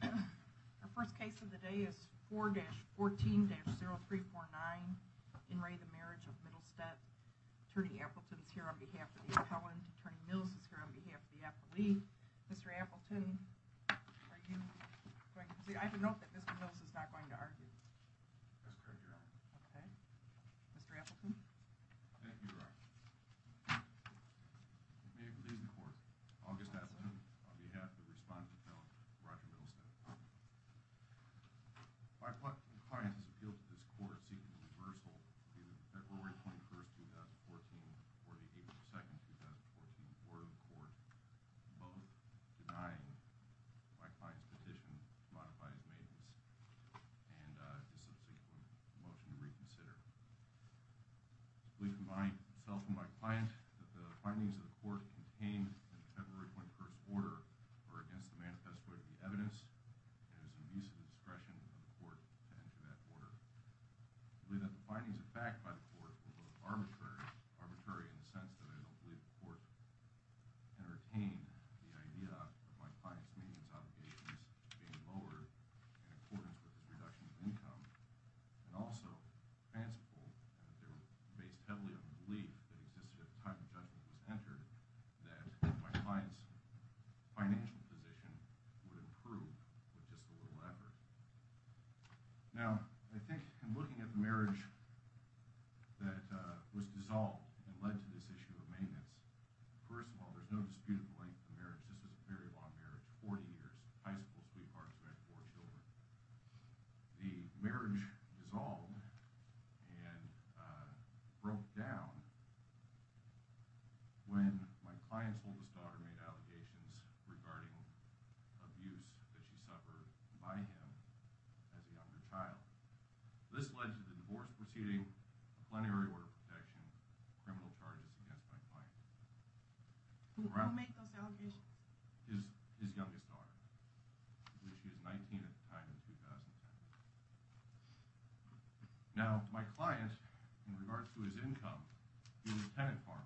The first case of the day is 4-14-0349. In re the Marriage of Mittelsteadt. Attorney Appleton is here on behalf of the appellant. Attorney Mills is here on behalf of the appellee. Mr. Appleton, are you going to proceed? I have a note that Mr. Mills is not going to argue. That's correct, Your Honor. Okay. Mr. Appleton? Thank you, Your Honor. May it please the court, August Appleton, on behalf of the respondent appellant, Roger Mittelsteadt. My client's appeal to this court is seeking reversal due to February 21, 2014, or the April 2, 2014 Board of Court, both denying my client's petition to modify his maintenance and his subsequent motion to reconsider. I believe, combining myself and my client, that the findings of the court contained in the February 21st order are against the manifesto of the evidence and it is an abuse of the discretion of the court to enter that order. I believe that the findings of fact by the court were both arbitrary in the sense that I don't believe the court entertained the idea of my client's maintenance obligations being lowered in accordance with his reduction of income. And also, fanciful that they were based heavily on the belief that existed at the time the judgment was entered that my client's financial position would improve with just a little effort. Now, I think in looking at the marriage that was dissolved and led to this issue of maintenance, first of all, there's no disputed length of marriage. This was a very long marriage, 40 years. It was high school sweethearts who had four children. The marriage dissolved and broke down when my client's oldest daughter made allegations regarding abuse that she suffered by him as a younger child. This led to the divorce proceeding, a plenary order of protection, criminal charges against my client. His youngest daughter, who was 19 at the time in 2010. Now, my client, in regards to his income, he had a tenant farm.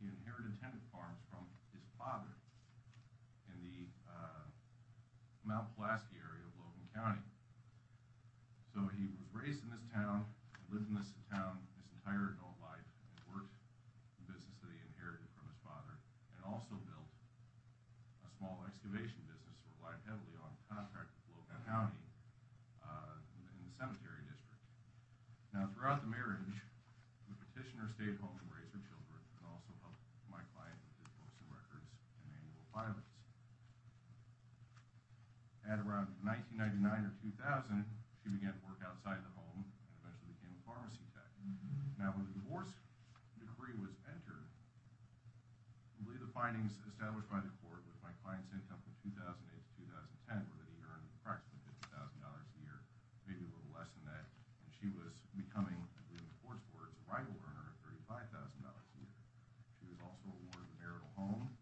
He inherited tenant farms from his father in the Mount Pulaski area of Logan County. So he was raised in this town, lived in this town his entire adult life, and worked the business that he inherited from his father, and also built a small excavation business that relied heavily on a contract with Logan County in the cemetery district. Now, throughout the marriage, the petitioner stayed home and raised her children and also helped my client with his postal records and annual filings. At around 1999 or 2000, she began to work outside the home and eventually became a pharmacy tech. Now, when the divorce decree was entered, the findings established by the court with my client's income from 2008 to 2010 were that he earned approximately $50,000 a year, maybe a little less than that, and she was becoming, according to the court's words, a rival earner of $35,000 a year. She was also awarded a marital home,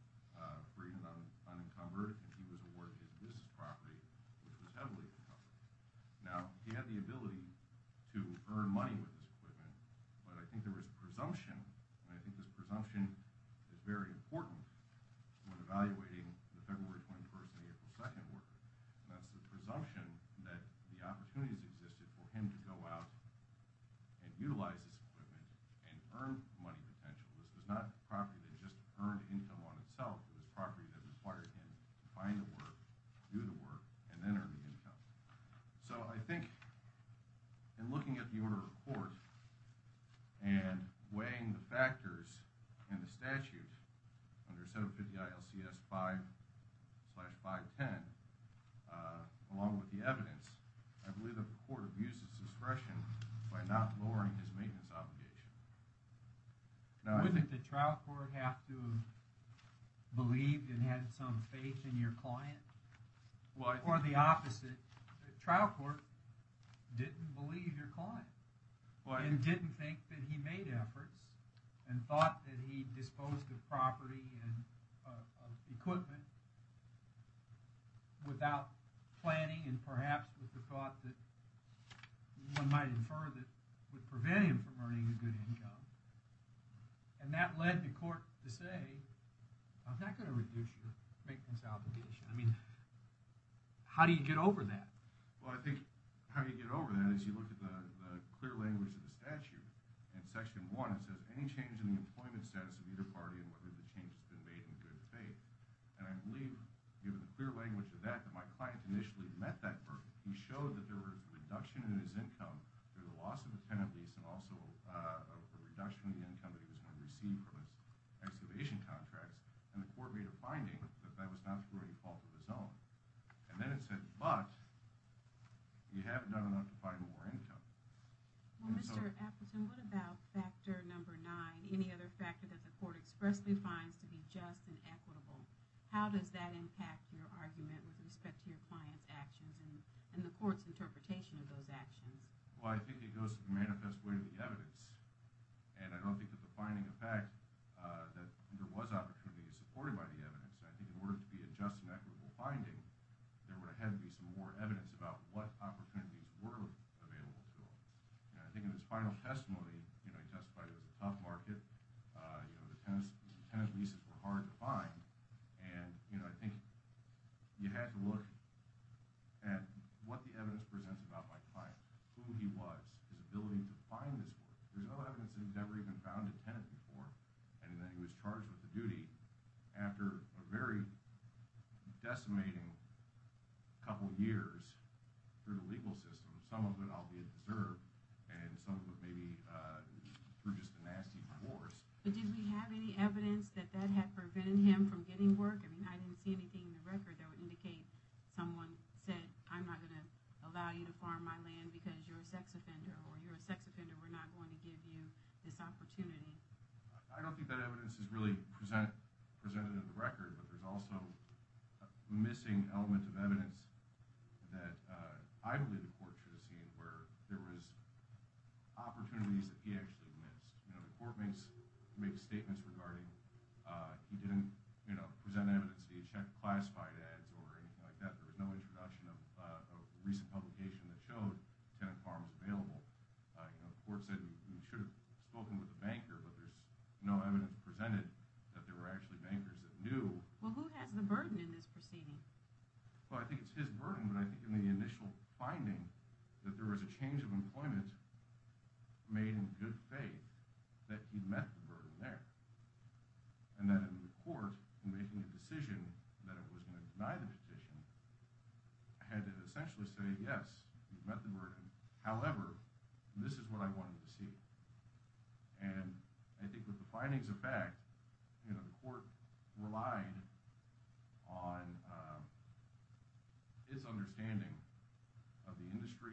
free and unencumbered, and he was awarded his business property, which was heavily encumbered. Now, he had the ability to earn money with this equipment, but I think there was a presumption, and I think this presumption is very important when evaluating the February 21st and April 2nd order, and that's the presumption that the opportunities existed for him to go out and utilize this equipment and earn money potential. This was not a property that just earned income on itself. It was a property that inspired him to find the work, do the work, and then earn the income. So I think in looking at the order of the court and weighing the factors in the statute under 750 ILCS 5-510, along with the evidence, I believe the court abused its discretion by not lowering his maintenance obligation. Now, I think... Wouldn't the trial court have to have believed and had some faith in your client? Well, I think... Or the opposite. The trial court didn't believe your client. Well, I think... And didn't think that he made efforts and thought that he disposed of property and equipment without planning and perhaps with the thought that one might infer that would prevent him from earning a good income. And that led the court to say, I'm not going to reduce your maintenance obligation. I mean, how do you get over that? Well, I think how you get over that is you look at the clear language of the statute. In Section 1 it says, of either party and whether the change has been made in good faith. And I believe, given the clear language of that, that my client initially met that burden. He showed that there was a reduction in his income through the loss of a tenant lease and also a reduction in the income that he was going to receive from his excavation contracts. And the court made a finding that that was not through any fault of his own. And then it said, but you haven't done enough to find more income. Well, Mr. Appleton, what about factor number 9, any other factor that the court expressly finds to be just and equitable? How does that impact your argument with respect to your client's actions and the court's interpretation of those actions? Well, I think it goes to the manifest way of the evidence. And I don't think that the finding of fact that there was opportunity is supported by the evidence. I think in order to be a just and equitable finding, there would have to be some more evidence about what opportunities were available to him. And I think in his final testimony, you know, he testified it was a tough market. You know, the tenant leases were hard to find. And, you know, I think you have to look at what the evidence presents about my client, who he was, his ability to find this work. There's no evidence that he's ever even found a tenant before. And then he was charged with a duty after a very decimating couple years through the legal system, some of it albeit deserved, and some of it maybe through just a nasty divorce. But did we have any evidence that that had prevented him from getting work? I mean, I didn't see anything in the record that would indicate someone said, I'm not going to allow you to farm my land because you're a sex offender, or you're a sex offender, we're not going to give you this opportunity. I don't think that evidence is really presented in the record, but there's also a missing element of evidence that I believe the court should have seen where there was opportunities that he actually missed. You know, the court makes statements regarding he didn't present evidence, he checked classified ads or anything like that. There was no introduction of a recent publication that showed tenant farms available. You know, the court said we should have spoken with a banker, but there's no evidence presented that there were actually bankers that knew. Well, who has the burden in this proceeding? Well, I think it's his burden, but I think in the initial finding that there was a change of employment made in good faith that he met the burden there. And that in the court, in making a decision that it was going to deny the petition, had to essentially say, yes, you've met the burden. However, this is what I wanted to see. And I think with the findings of fact, you know, the court relied on his understanding of the industry,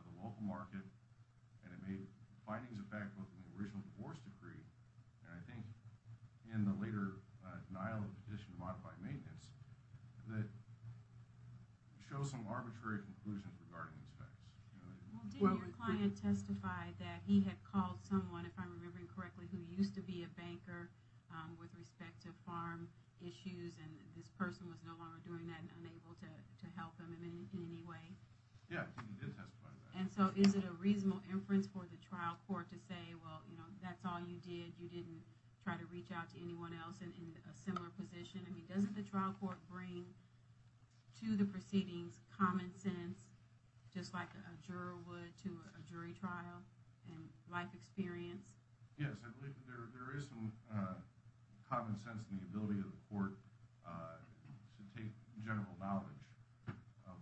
of the local market, and it made findings of fact both in the original divorce decree and I think in the later denial of the petition to modify maintenance that show some arbitrary conclusions regarding these facts. Well, did your client testify that he had called someone, if I'm remembering correctly, who used to be a banker with respect to farm issues and this person was no longer doing that and unable to help him in any way? Yeah, he did testify to that. And so is it a reasonable inference for the trial court to say, well, you know, that's all you did, you didn't try to reach out to anyone else in a similar position? I mean, doesn't the trial court bring to the proceedings common sense, just like a juror would to a jury trial and life experience? Yes, I believe that there is some common sense in the ability of the court to take general knowledge of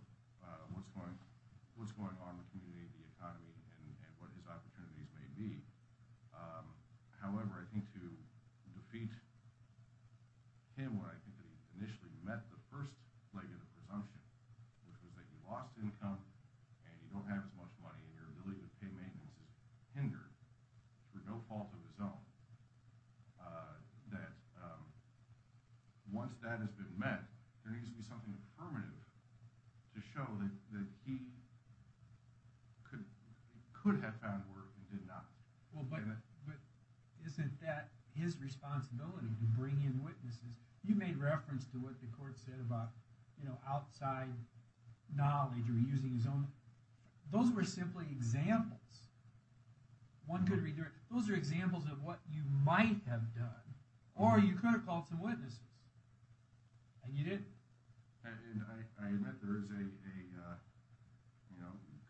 what's going on in the community, the economy, and what his opportunities may be. However, I think to defeat him when I think that he initially met the first leg of the presumption, which was that he lost income and he don't have as much money and your ability to pay maintenance is hindered for no fault of his own, that once that has been met, there needs to be something affirmative to show that he could have found work and did not. Well, but isn't that his responsibility to bring in witnesses? You made reference to what the court said about outside knowledge or using his own. Those were simply examples. Those are examples of what you might have done. Or you could have called some witnesses. And you didn't. I admit there is a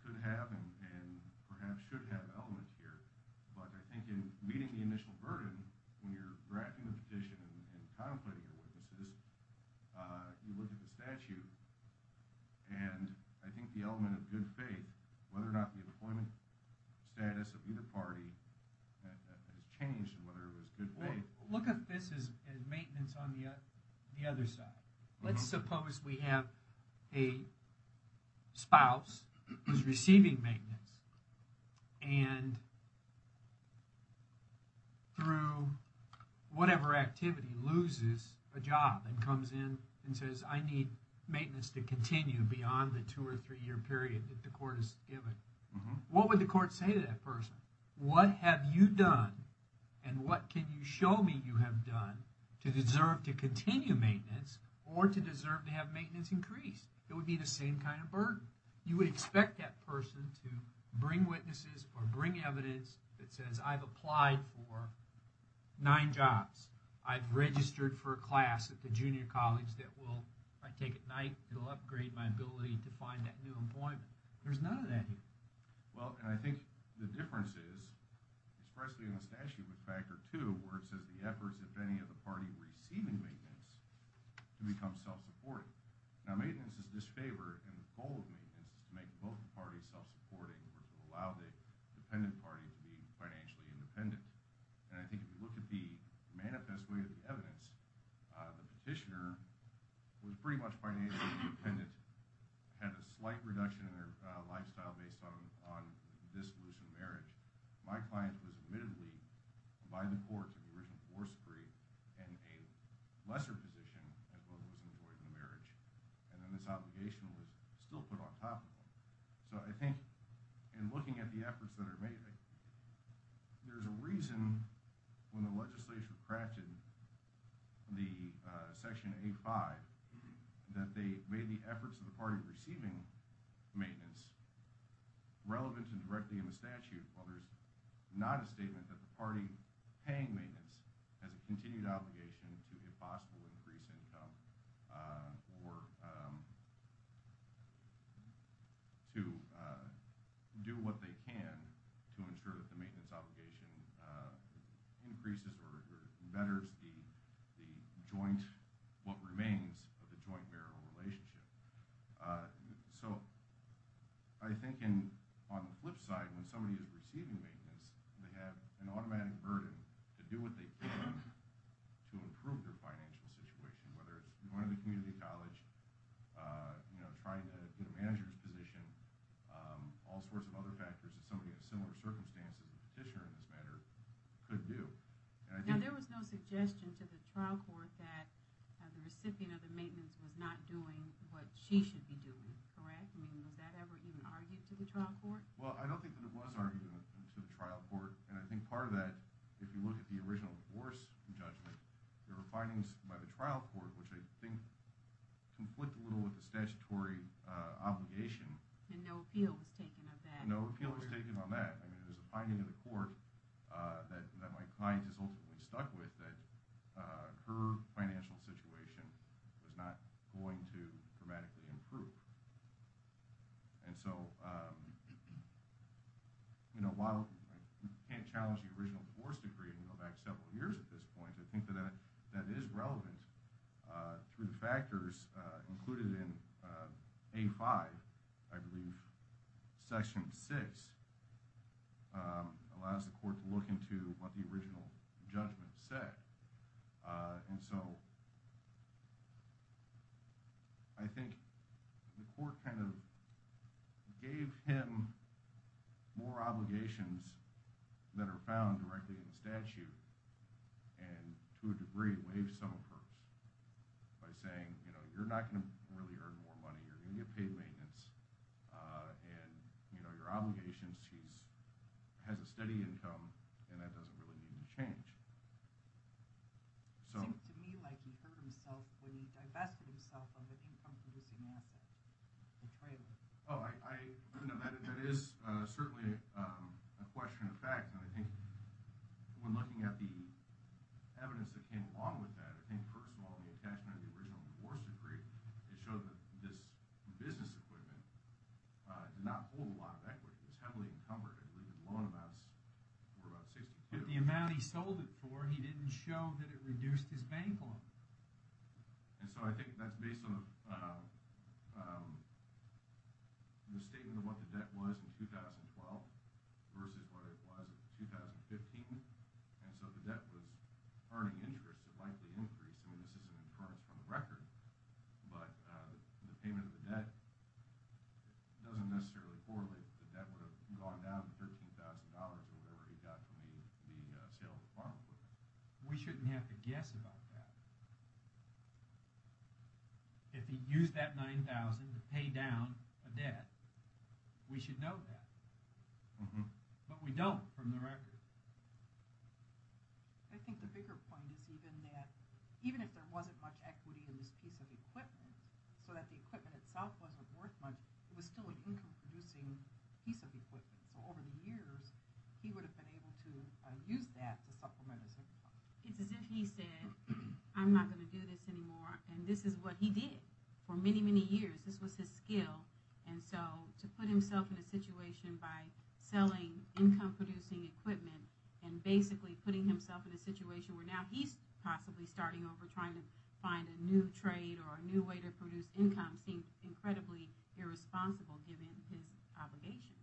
could have and perhaps should have element here, but I think in meeting the initial burden when you're drafting the petition and contemplating your witnesses, you look at the statute, and I think the element of good faith, whether or not the employment status of either party has changed and whether it was good faith. Look at this as maintenance on the other side. Let's suppose we have a spouse who's receiving maintenance and through whatever activity loses a job and comes in and says, I need maintenance to continue beyond the two or three year period that the court has given. What would the court say to that person? What have you done and what can you show me you have done to deserve to continue maintenance or to deserve to have maintenance increase? It would be the same kind of burden. You would expect that person to bring witnesses or bring evidence that says I've applied for nine jobs. I've registered for a class at the junior college that I take at night. It will upgrade my ability to find that new employment. There's none of that here. I think the difference is, especially in the statute with Factor 2, where it says the efforts, if any, of the party receiving maintenance to become self-supporting. Maintenance is disfavored, and the goal of maintenance is to make both parties self-supporting or to allow the dependent party to be financially independent. I think if you look at the manifest way of the evidence, the petitioner was pretty much financially independent, had a slight reduction in their lifestyle based on this loosened marriage. My client was admittedly, by the court, to the original divorce decree and a lesser position as what was enjoyed in the marriage. And then this obligation was still put on top of them. So I think in looking at the efforts that are made, there's a reason when the legislature crafted Section A5 that they made the efforts of the party receiving maintenance relevant and directly in the statute, while there's not a statement that the party paying maintenance has a continued obligation to, if possible, increase income or to do what they can to ensure that the maintenance obligation increases or betters what remains of the joint marital relationship. So I think on the flip side, when somebody is receiving maintenance, they have an automatic burden to do what they can to improve their financial situation, whether it's going to the community college, trying to get a manager's position, all sorts of other factors that somebody in similar circumstances, as a petitioner in this matter, could do. Now there was no suggestion to the trial court that the recipient of the maintenance was not doing what she should be doing, correct? I mean, was that ever even argued to the trial court? Well, I don't think that it was argued to the trial court, and I think part of that, if you look at the original divorce judgment, there were findings by the trial court which I think conflict a little with the statutory obligation. And no appeal was taken of that? No appeal was taken on that. I mean, there's a finding in the court that my client has ultimately stuck with that her financial situation was not going to dramatically improve. And so while I can't challenge the original divorce decree and go back several years at this point, I think that that is relevant through the factors included in A-5, or I believe Section 6 allows the court to look into what the original judgment said. And so I think the court kind of gave him more obligations that are found directly in the statute and to a degree waived some of hers by saying, you know, you're not going to really earn more money, you're going to get paid maintenance, and, you know, your obligations, she has a steady income, and that doesn't really need to change. It seemed to me like he hurt himself when he divested himself of an income-producing asset, the trailer. Oh, that is certainly a question of fact, and I think when looking at the evidence that came along with that, I think first of all the attachment of the original divorce decree, it showed that this business equipment did not hold a lot of equity. It was heavily encumbered. I believe the loan amounts were about $62 million. But the amount he sold it for, he didn't show that it reduced his bank loan. And so I think that's based on the statement of what the debt was in 2012 versus what it was in 2015, and so the debt was earning interest, a likely increase. I mean, this is an inference from the record, but the payment of the debt doesn't necessarily correlate that the debt would have gone down to $13,000 or whatever he got from the sale of the farm equipment. We shouldn't have to guess about that. If he used that $9,000 to pay down a debt, we should know that. But we don't from the record. I think the bigger point is even that even if there wasn't much equity in this piece of equipment so that the equipment itself wasn't worth much, it was still an income-producing piece of equipment. So over the years, he would have been able to use that to supplement his equipment. It's as if he said, I'm not going to do this anymore, and this is what he did for many, many years. This was his skill. So to put himself in a situation by selling income-producing equipment and basically putting himself in a situation where now he's possibly starting over trying to find a new trade or a new way to produce income seemed incredibly irresponsible given his obligations.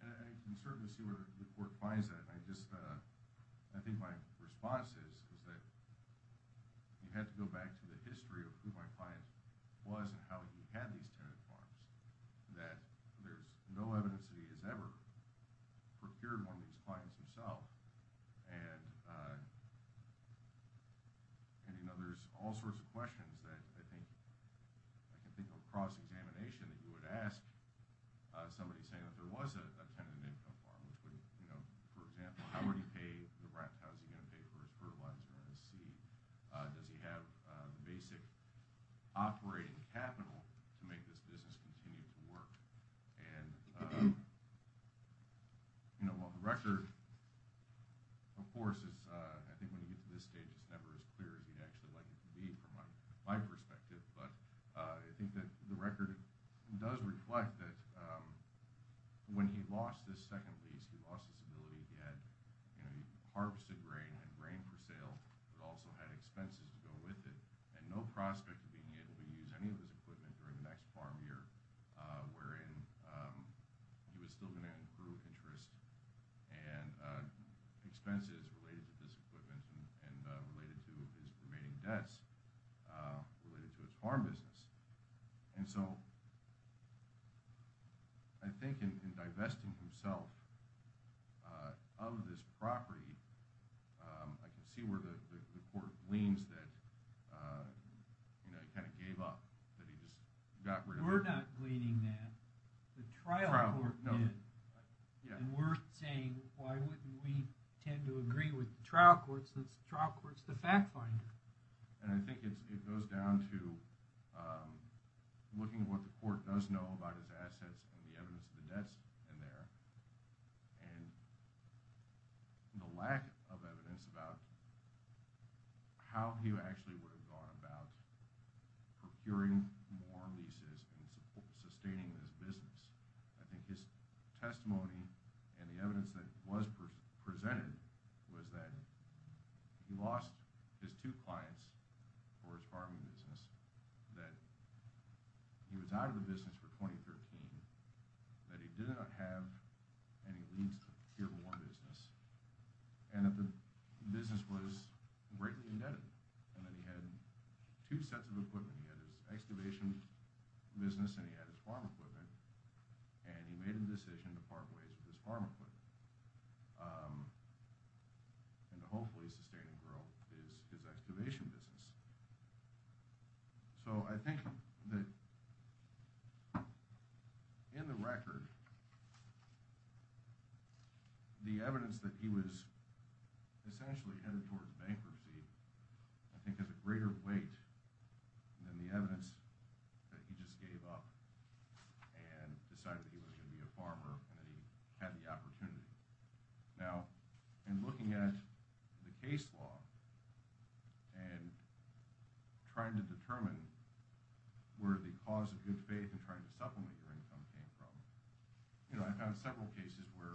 I can certainly see where the court finds that. I think my response is that you have to go back to the history of who my client was and how he had these tenant farms, that there's no evidence that he has ever procured one of these clients himself. And there's all sorts of questions that I can think of across examination that you would ask somebody saying that there was a tenant income farm. For example, how would he pay the rent? How is he going to pay for his fertilizer and his seed? Does he have the basic operating capital to make this business continue to work? And the record, of course, I think when you get to this stage, it's never as clear as you'd actually like it to be from my perspective, but I think that the record does reflect that when he lost his second lease, he lost his ability. He harvested grain and had grain for sale, but also had expenses to go with it, and no prospect of being able to use any of his equipment during the next farm year, wherein he was still going to incur interest and expenses related to this equipment and related to his remaining debts related to his farm business. And so I think in divesting himself of this property, I can see where the court gleans that he kind of gave up, that he just got rid of it. We're not gleaning that. The trial court did, and we're saying why wouldn't we tend to agree with the trial court since the trial court's the fact finder. And I think it goes down to looking at what the court does know about his assets and the evidence of the debts in there, and the lack of evidence about how he actually would have gone about procuring more leases and sustaining his business. I think his testimony and the evidence that was presented was that he lost his two clients for his farming business, that he was out of the business for 2013, that he did not have any leads to deal with one business, and that the business was greatly indebted, and that he had two sets of equipment. He had his excavation business and he had his farm equipment, and he made a decision to part ways with his farm equipment, and to hopefully sustain and grow his excavation business. So I think that in the record, the evidence that he was essentially headed towards bankruptcy I think has a greater weight than the evidence that he just gave up and decided that he was going to be a farmer and that he had the opportunity. Now, in looking at the case law, and trying to determine where the cause of good faith and trying to supplement your income came from, I found several cases where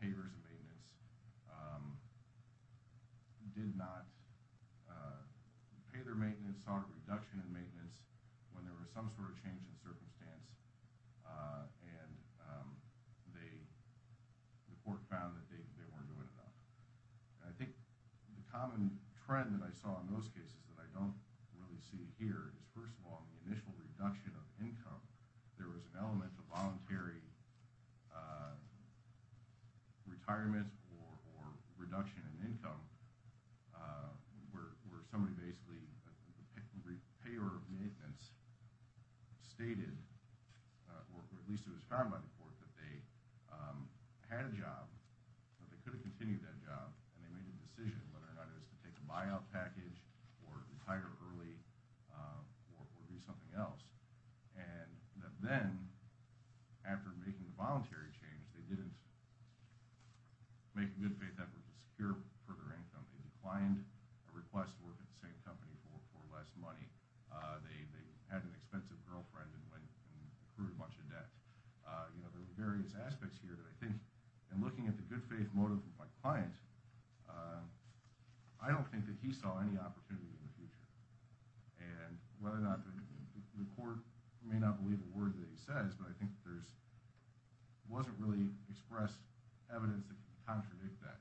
payers and maintenance did not pay their maintenance, saw a reduction in maintenance when there was some sort of change in circumstance, and the court found that they weren't doing enough. I think the common trend that I saw in those cases that I don't really see here is, first of all, the initial reduction of income. There was an element of voluntary retirement or reduction in income where somebody basically, the payer of maintenance, stated, or at least it was found by the court, that they had a job, that they could have continued that job, and they made a decision whether or not it was to take a buyout package or retire early or do something else, and that then, after making the voluntary change, they didn't make a good faith effort to secure further income. They declined a request to work at the same company for less money. They had an expensive girlfriend and went and accrued a bunch of debt. There were various aspects here, but I think in looking at the good faith motive of my client, I don't think that he saw any opportunity in the future, and whether or not the court may not believe a word that he says, but I think there wasn't really expressed evidence that could contradict that.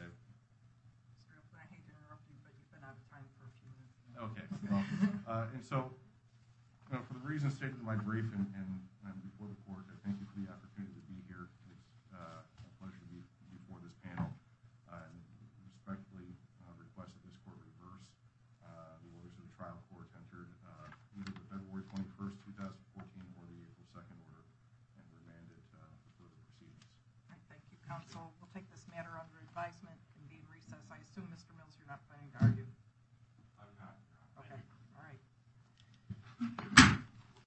I hate to interrupt you, but you've been out of time for a few minutes. Okay. And so, for the reasons stated in my brief and before the court, I thank you for the opportunity to be here. It's a pleasure to be before this panel. I respectfully request that this court reverse the orders of the trial court entered either the February 21, 2014, or the April 2 order and remand it for further proceedings. All right. Thank you, counsel. We'll take this matter under advisement and be in recess. I assume, Mr. Mills, you're not planning to argue. I'm not. Okay. All right.